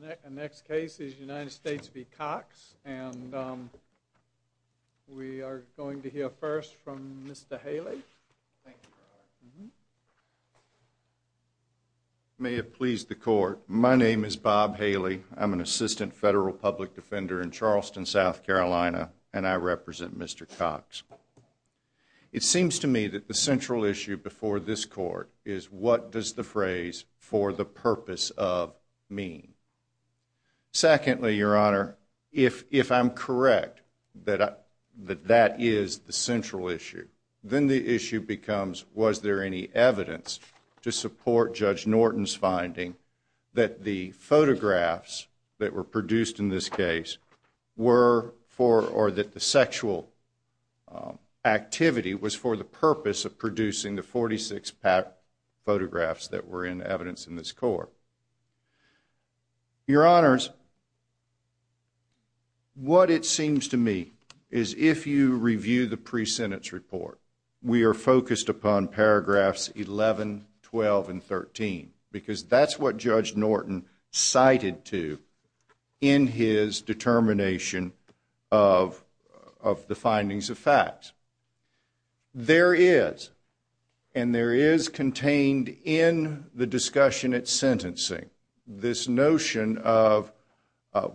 The next case is United States v. Cox, and we are going to hear first from Mr. Haley. May it please the court, my name is Bob Haley. I'm an assistant federal public defender in Charleston, South Carolina, and I represent Mr. Cox. It seems to me that the central issue before this court is what does the phrase for the purpose of mean? Secondly, your honor, if I'm correct that that is the central issue, then the issue becomes was there any evidence to support Judge Norton's finding that the photographs that were produced in this case were for or that the sexual activity was for the purpose of producing the 46 photographs that were in evidence in this court? Your honors, what it seems to me is if you review the pre-sentence report, we are focused upon paragraphs 11, 12, and 13, because that's what Judge Norton cited to in his determination of the findings of facts. There is, and there is contained in the discussion at sentencing, this notion of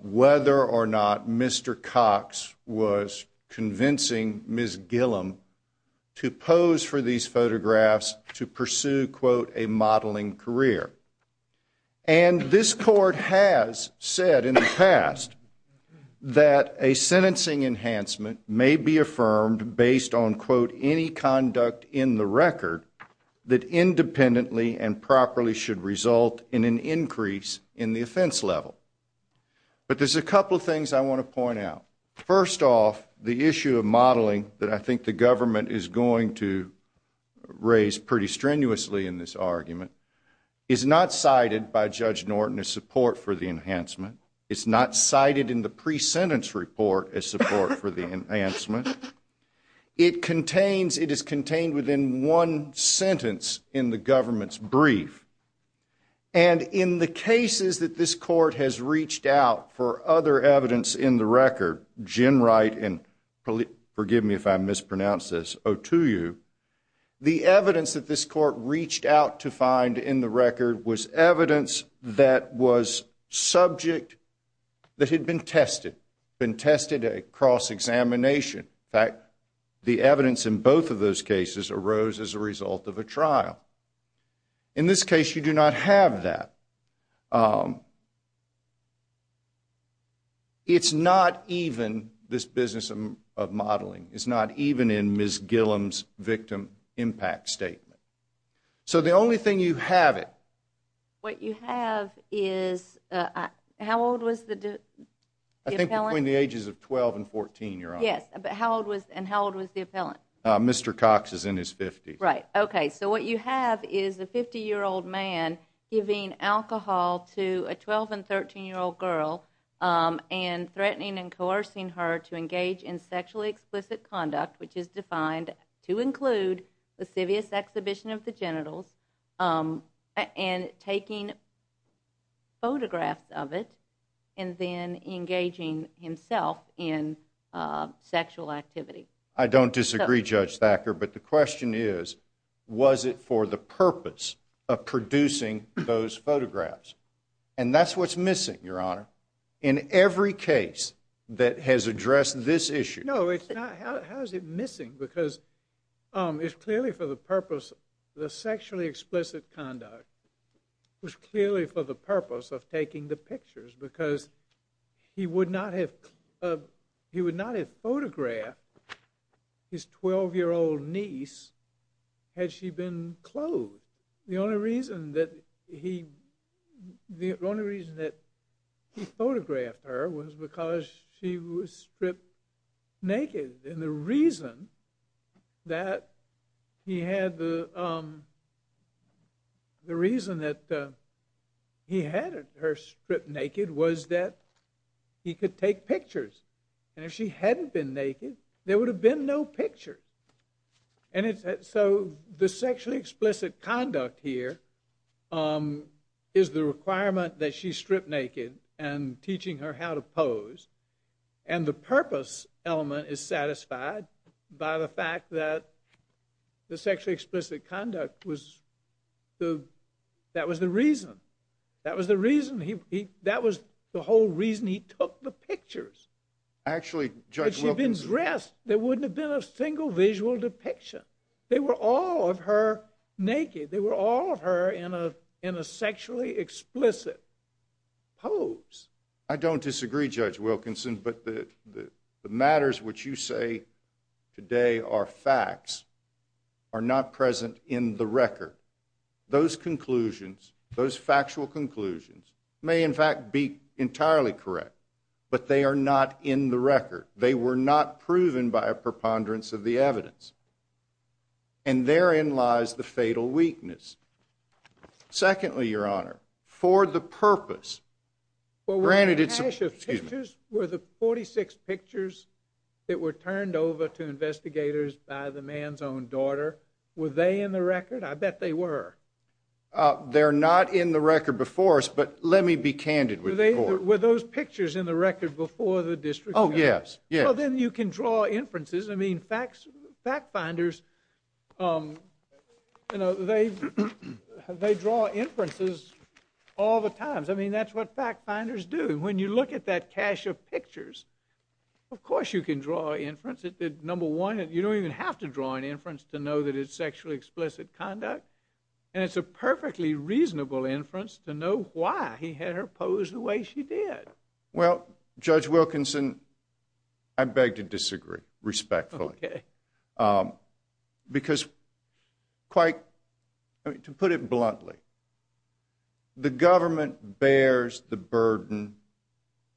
whether or not Mr. Cox was convincing Ms. Gillum to pose for these photographs to pursue, quote, a modeling career. And this court has said in the past that a based on, quote, any conduct in the record that independently and properly should result in an increase in the offense level. But there's a couple of things I want to point out. First off, the issue of modeling that I think the government is going to raise pretty strenuously in this argument is not cited by Judge Norton as support for the enhancement. It's not cited in the It contains, it is contained within one sentence in the government's brief. And in the cases that this court has reached out for other evidence in the record, Gen Wright and, forgive me if I mispronounce this, Otuyu, the evidence that this court reached out to find in the record was evidence that was subject, that had been tested, been tested at cross-examination. In fact, the evidence in both of those cases arose as a result of a trial. In this case, you do not have that. It's not even, this business of modeling, it's not even in Ms. Gillum's victim impact statement. So the only thing you have it. What you have is, how old was the appellant? I think between the ages of 12 and 14, Your Honor. Yes, but how old was, and how old was the appellant? Mr. Cox is in his 50s. Right, okay. So what you have is a 50 year old man giving alcohol to a 12 and 13 year old girl and threatening and coercing her to engage in sexually explicit conduct, which is defined to include the exhibition of the genitals, and taking photographs of it, and then engaging himself in sexual activity. I don't disagree, Judge Thacker, but the question is, was it for the purpose of producing those photographs? And that's what's missing, Your Honor, in every case that has addressed this issue. No, it's not. How is it missing? Because it's clearly for the purpose, the sexually explicit conduct was clearly for the purpose of taking the pictures, because he would not have, he would not have photographed his 12 year old niece had she been clothed. The only reason that he, the only reason that he photographed her was because she was stripped naked, and the reason that he had the, the reason that he had her stripped naked was that he could take pictures, and if she hadn't been naked there would have been no pictures. And it's, so the sexually explicit conduct here is the requirement that she's stripped naked and teaching her how to and the purpose element is satisfied by the fact that the sexually explicit conduct was the, that was the reason, that was the reason he, that was the whole reason he took the pictures. Actually, Judge Wilkinson. If she'd been dressed there wouldn't have been a single visual depiction. They were all of her naked, they were all of her in a, in a sexually explicit pose. I don't disagree, Judge Wilkinson, but the, the matters which you say today are facts are not present in the record. Those conclusions, those factual conclusions may in fact be entirely correct, but they are not in the record. They were not proven by a preponderance of the evidence, and therein lies the fatal weakness. Secondly, Your Honor, for the purpose, granted it's, excuse me, were the 46 pictures that were turned over to investigators by the man's own daughter, were they in the record? I bet they were. They're not in the record before us, but let me be candid with you. Were those pictures in the record before the district court? Oh yes, yes. Well then you can draw inferences, I mean facts, fact finders, you know, they, they draw inferences all the times. I mean, that's what fact finders do. When you look at that cache of pictures, of course you can draw inference. It did, number one, you don't even have to draw an inference to know that it's sexually explicit conduct, and it's a perfectly reasonable inference to know why he had her pose the way she did. Well, Judge Wilkinson, I beg to disagree, respectfully. Okay. Because quite, to put it bluntly, the government bears the burden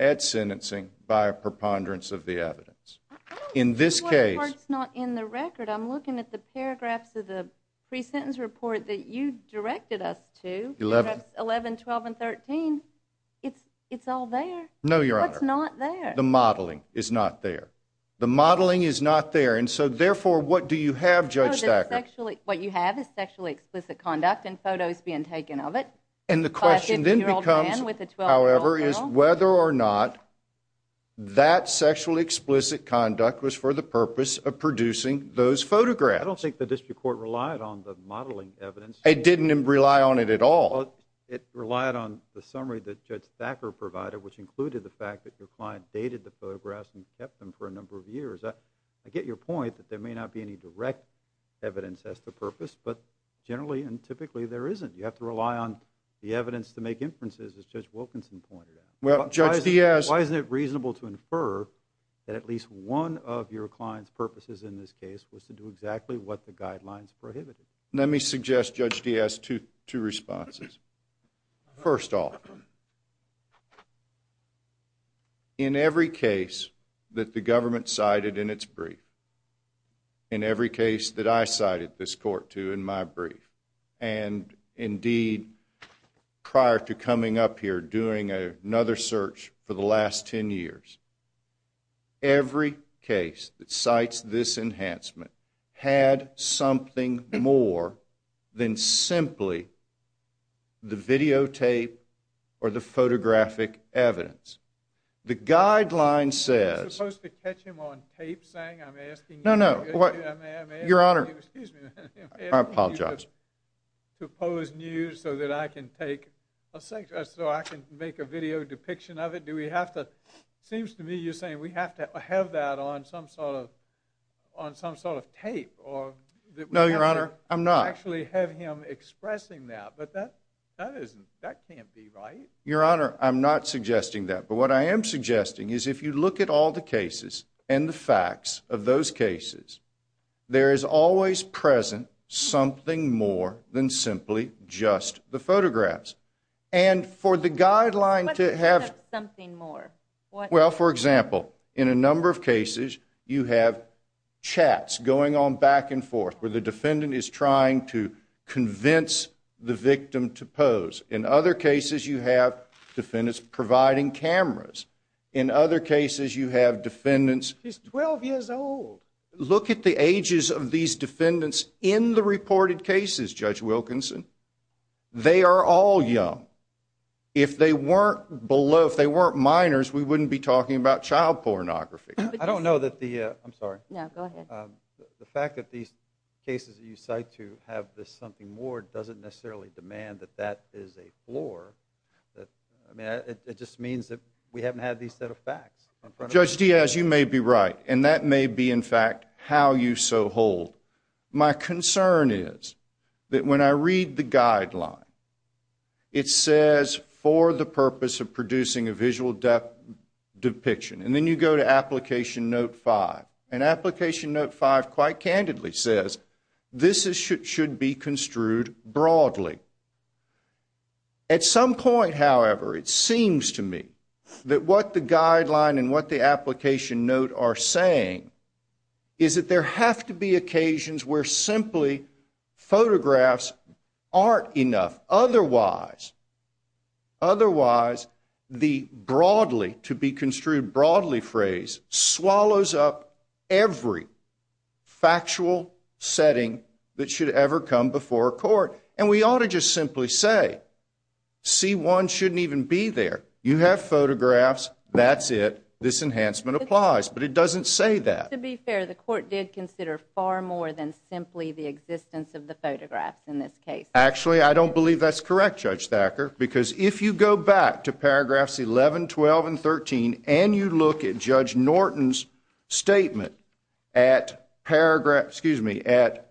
at sentencing by a preponderance of the evidence. In this case, it's not in the record. I'm looking at the paragraphs of the pre-sentence report that you directed us to, 11, 12, and 13. It's, it's all there. No, Your Honor. It's not there. The modeling is not there. The sexually, what you have is sexually explicit conduct and photos being taken of it. And the question then becomes, however, is whether or not that sexually explicit conduct was for the purpose of producing those photographs. I don't think the district court relied on the modeling evidence. It didn't rely on it at all. It relied on the summary that Judge Thacker provided, which included the fact that your client dated the photographs and kept them for a number of years. I get your point that there may not be any direct evidence as to purpose, but generally and typically there isn't. You have to rely on the evidence to make inferences, as Judge Wilkinson pointed out. Well, Judge Diaz. Why isn't it reasonable to infer that at least one of your client's purposes in this case was to do exactly what the guidelines prohibited? Let me suggest Judge Diaz two responses. First off, in every case that the government cited in its brief, in every case that I cited this court to in my brief, and indeed prior to coming up here doing another search for the last ten years, every case that cites this enhancement had something more than simply the videotape or the photographic evidence. The guideline says, no, no, your honor, I apologize, to oppose news so that I can take a psychiatrist so I can make a video depiction of it. Do we have to, seems to me you're saying we have to have that on some sort of tape. No, your honor, I'm not. Actually have him expressing that, but that can't be right. Your honor, I'm not suggesting that, but what I am suggesting is if you look at all the cases and the facts of those cases, there is always present something more than simply just the photographs. And for the guideline to have something more? Well, for example, in a number of cases you have chats going on back and forth where the defendant is trying to convince the victim to pose. In other cases you have defendants providing cameras. In other cases you have defendants... He's 12 years old. Look at the ages of these defendants in the reported cases, Judge Wilkinson. They are all young. If they weren't below, if they weren't minors, we wouldn't be talking about child pornography. I don't know that the... I'm sorry. No, go ahead. The fact that these cases you cite to have this something more doesn't necessarily demand that that is a floor. It just means that we haven't had these set of facts. Judge Diaz, you may be right and that may be in fact how you so hold. My concern is that when I read the depiction and then you go to Application Note 5 and Application Note 5 quite candidly says this should be construed broadly. At some point, however, it seems to me that what the guideline and what the Application Note are saying is that there have to be occasions where simply photographs aren't enough. Otherwise, otherwise the broadly, to be construed broadly, phrase swallows up every factual setting that should ever come before a court. And we ought to just simply say, C1 shouldn't even be there. You have photographs. That's it. This enhancement applies. But it doesn't say that. To be fair, the court did consider far more than simply the existence of the photographs in this case. Actually, I don't believe that's correct, Judge Thacker, because if you go back to paragraphs 11, 12, and 13 and you look at Judge Norton's statement at paragraph, excuse me, at,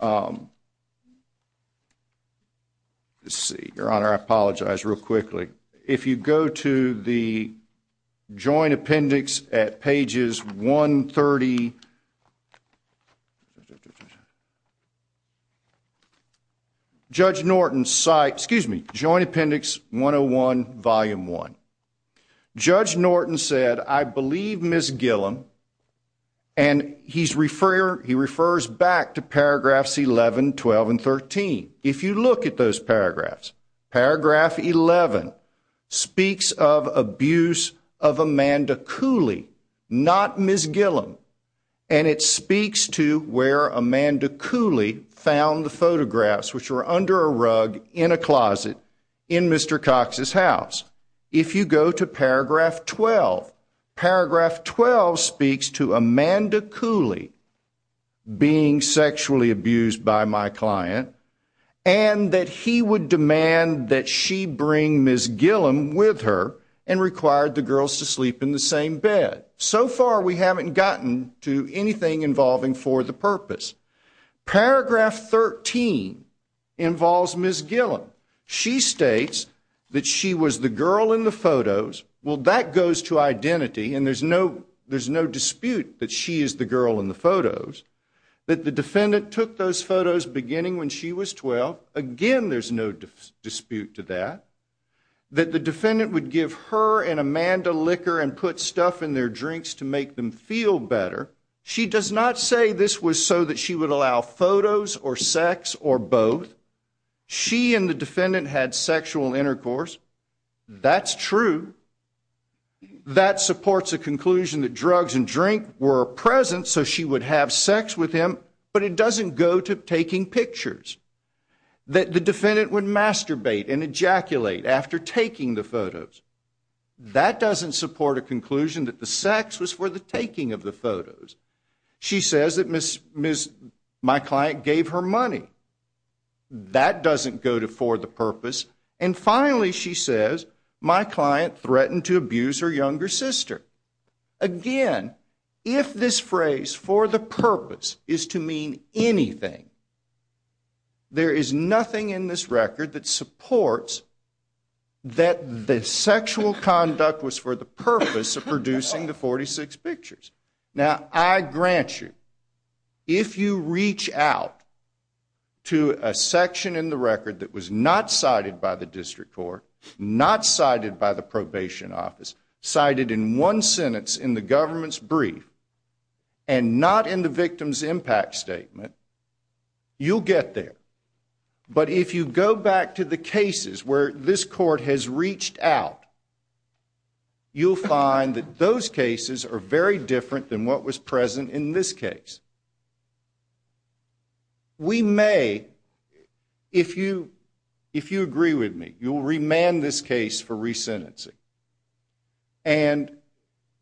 let's see, Your Honor, I apologize real quickly. If you go to the Norton site, excuse me, Joint Appendix 101, Volume 1, Judge Norton said, I believe Ms. Gillum, and he's refer, he refers back to paragraphs 11, 12, and 13. If you look at those paragraphs, paragraph 11 speaks of abuse of Amanda Cooley, not Ms. Gillum, and it speaks to where Amanda Cooley found the photographs which were under a rug in a closet in Mr. Cox's house. If you go to paragraph 12, paragraph 12 speaks to Amanda Cooley being sexually abused by my client and that he would demand that she bring Ms. Gillum with her and required the girls to sleep in the same bed. So far, we haven't gotten to anything involving for the purpose. Paragraph 13 involves Ms. Gillum. She states that she was the girl in the photos. Well, that goes to identity and there's no, there's no dispute that she is the girl in the photos. That the defendant took those photos beginning when she was 12. Again, there's no dispute to that. That the defendant would give her and Amanda liquor and put stuff in their drinks to make them feel better. She does not say this was so that she would allow photos or sex or both. She and the defendant had sexual intercourse. That's true. That supports a conclusion that drugs and drink were present so she would have sex with him, but it doesn't go to taking pictures. That the defendant would masturbate and ejaculate after taking the photos. That doesn't support a taking of the photos. She says that my client gave her money. That doesn't go to for the purpose. And finally, she says my client threatened to abuse her younger sister. Again, if this phrase for the purpose is to mean anything, there is nothing in this record that supports that the sexual conduct was for the purpose of producing the 46 pictures. Now, I grant you, if you reach out to a section in the record that was not cited by the district court, not cited by the probation office, cited in one sentence in the government's brief and not in the victim's impact statement, you'll get there. But if you go back to the cases where this court has reached out, you'll find that those cases are very different than what was present in this case. We may, if you agree with me, you'll remand this case for re-sentencing. And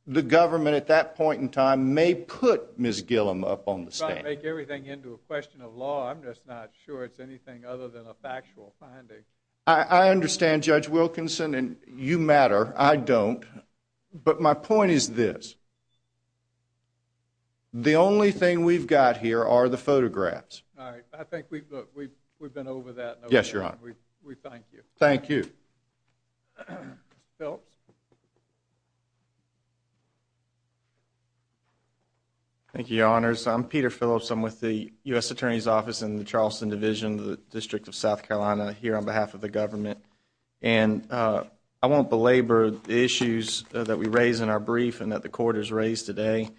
the government, at that point in time, may put Ms. Gillum up on the stand. If I make everything into a question of I understand, Judge Wilkinson, and you matter. I don't. But my point is this. The only thing we've got here are the photographs. All right. I think we've been over that. Yes, Your Honor. We thank you. Thank you. Thank you, Your Honors. I'm Peter Phillips. I'm with the U.S. Attorney's Office in the Charleston Division, the District of South Carolina, here on behalf of the government. And I won't belabor the issues that we raise in our brief and that the court has raised today.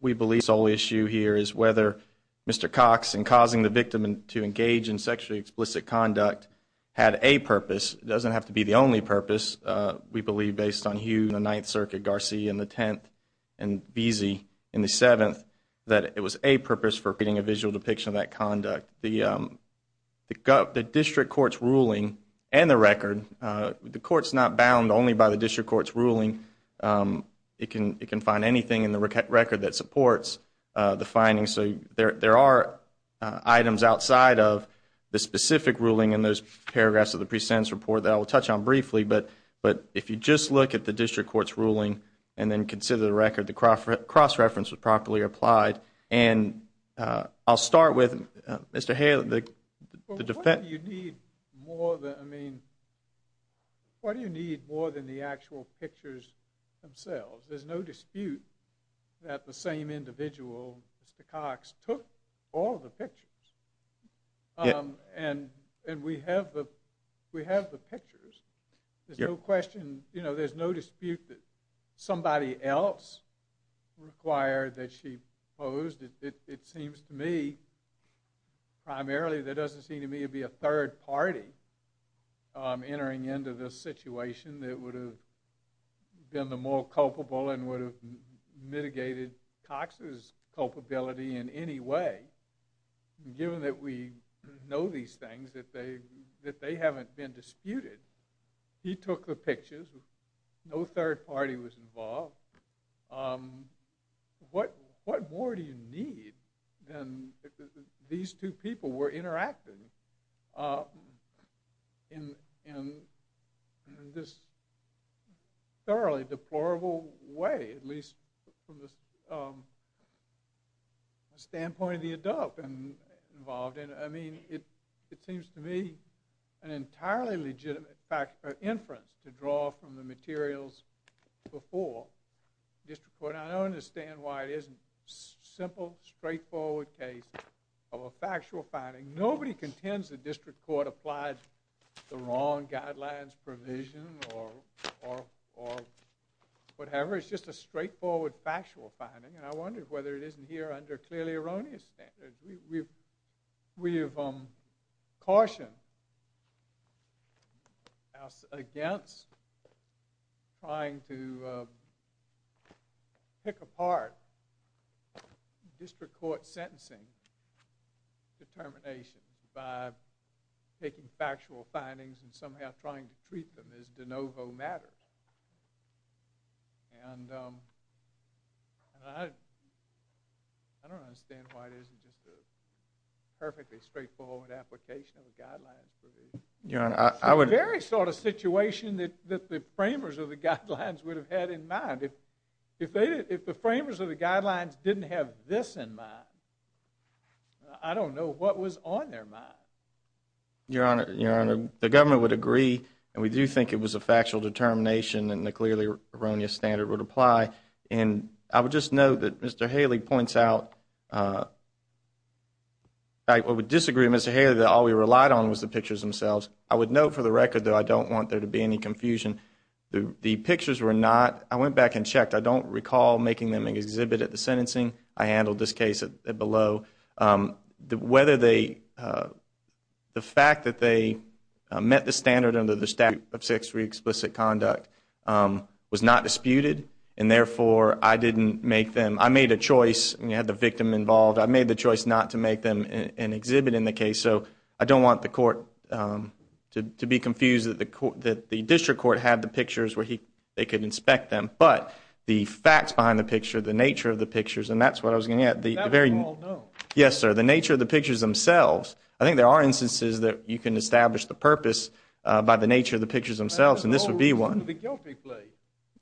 We believe the sole issue here is whether Mr. Cox, in causing the victim to engage in sexually explicit conduct, had a purpose. It doesn't have to be the only purpose. We believe, based on Hughes in the Ninth Circuit, Garcia in the Tenth, and Beese in the Seventh, that it was a purpose for creating a visual depiction of that conduct. The district court's ruling and the record, the court's not bound only by the district court's ruling. It can find anything in the record that supports the findings. So there are items outside of the specific ruling in those paragraphs of the pre-sentence report that I will touch on briefly. But if you just look at the district court's ruling and then consider the record, the cross-reference was I'll start with Mr. Hale. What do you need more than the actual pictures themselves? There's no dispute that the same individual, Mr. Cox, took all the pictures. And we have the pictures. There's no question, you know, there's no dispute that somebody else required that she posed. It seems to me, primarily, there doesn't seem to me to be a third party entering into this situation that would have been the more culpable and would have mitigated Cox's culpability in any way. Given that we know these things, that they haven't been disputed, he took the pictures, no third party was involved. What more do you need than these two people were interacting in this thoroughly deplorable way, at least from the standpoint of the adult involved in it. I mean, it seems to me an inference to draw from the materials before district court. I don't understand why it isn't simple, straightforward case of a factual finding. Nobody contends the district court applied the wrong guidelines provision or whatever. It's just a straightforward factual finding and I wonder whether it isn't here under clearly erroneous standards. We have cautioned against trying to pick apart district court sentencing determination by taking factual findings and somehow trying to treat them as de novo matters. And I don't understand why it isn't just a perfectly straightforward application of a guidelines provision. It's the very sort of situation that the framers of the guidelines would have had in mind. If the framers of the guidelines didn't have this in mind, I don't know what was on their mind. Your Honor, the government would agree and we do think it was a factual determination and the clearly erroneous standard would apply. And I would just note that Mr. Haley points out, I would disagree with Mr. Haley that all we relied on was the pictures themselves. I would note for the record though, I don't want there to be any confusion. The pictures were not, I went back and checked, I don't recall making them exhibit at the sentencing. I handled this case below. Whether the fact that they met the standard under the statute of sex for explicit conduct was not disputed and therefore I didn't make them, I made a choice and you had the victim involved, I made the choice not to make them an exhibit in the case. So I don't want the court to be confused that the district court had the pictures where they could inspect them. But the facts behind the picture, the nature of the pictures, and that's what I was getting at, the very, yes sir, the nature of the pictures themselves. I think there are instances that you can establish the purpose by the nature of the pictures themselves and this would be one.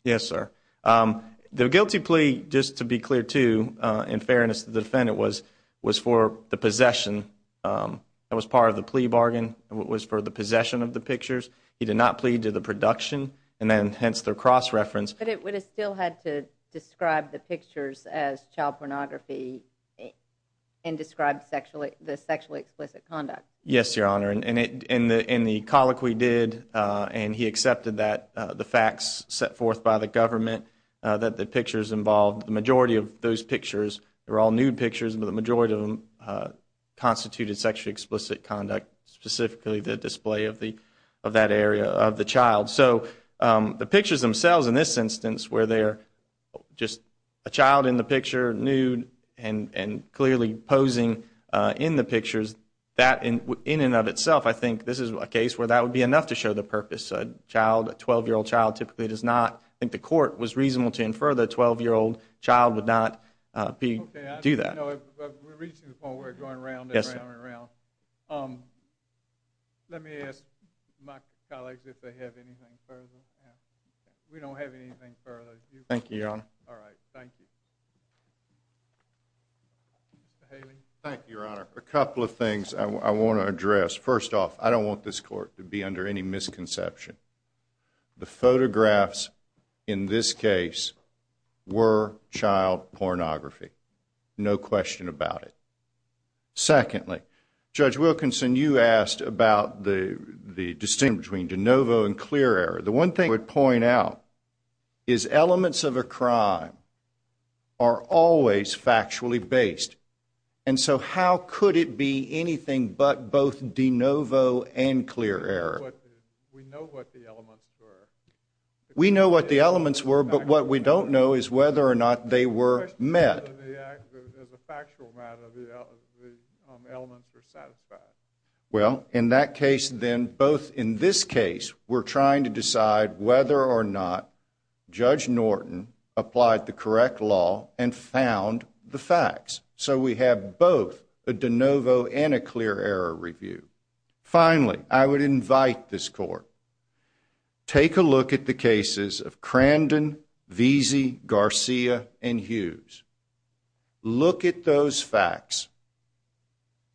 Yes sir. Um, the guilty plea just to be clear to uh, in fairness, the defendant was, was for the possession. Um, that was part of the plea bargain was for the possession of the pictures. He did not plead to the production and then hence their cross reference. But it would have still had to describe the pictures as child pornography and described sexually the sexually explicit conduct. Yes, your honor. And in the, in the colloquy did uh, and he accepted that the facts set forth by the government, uh, that the pictures involved the majority of those pictures, they're all nude pictures, but the majority of them uh, constituted sexually explicit conduct, specifically the display of the, of that area of the child. So um, the pictures themselves in this instance where they're just a child in the picture nude and, and clearly posing uh, in the pictures that in, in and of itself, I think this is a case where that would be enough to show the purpose. A child, a 12 year old child typically does not think the court was reasonable to infer the 12 year old child would not be, do that. No, we're reaching the point where we're going around and around and around. Um, let me ask my colleagues if they have anything further. We don't have anything further. Thank you. All right. Thank you. Thank you, your honor. A couple of things I want to address. First off, I don't want this court to be under any misconception. The photographs in this case were child pornography. No question about it. Secondly, Judge the one thing I would point out is elements of a crime are always factually based. And so how could it be anything but both de novo and clear error? We know what the elements were. We know what the elements were, but what we don't know is whether or not they were met as a factual matter. The elements were satisfied. Well, in that case, then, both in this case, we're trying to decide whether or not Judge Norton applied the correct law and found the facts. So we have both de novo and a clear error review. Finally, I would invite this court take a look at the cases of Crandon VZ Garcia and Hughes. Look at those facts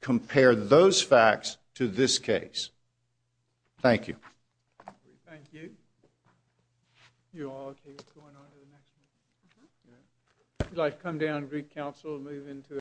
compare those facts to this case. Thank you. Thank you. You are going on to the next. Like, come down. Greek Council move into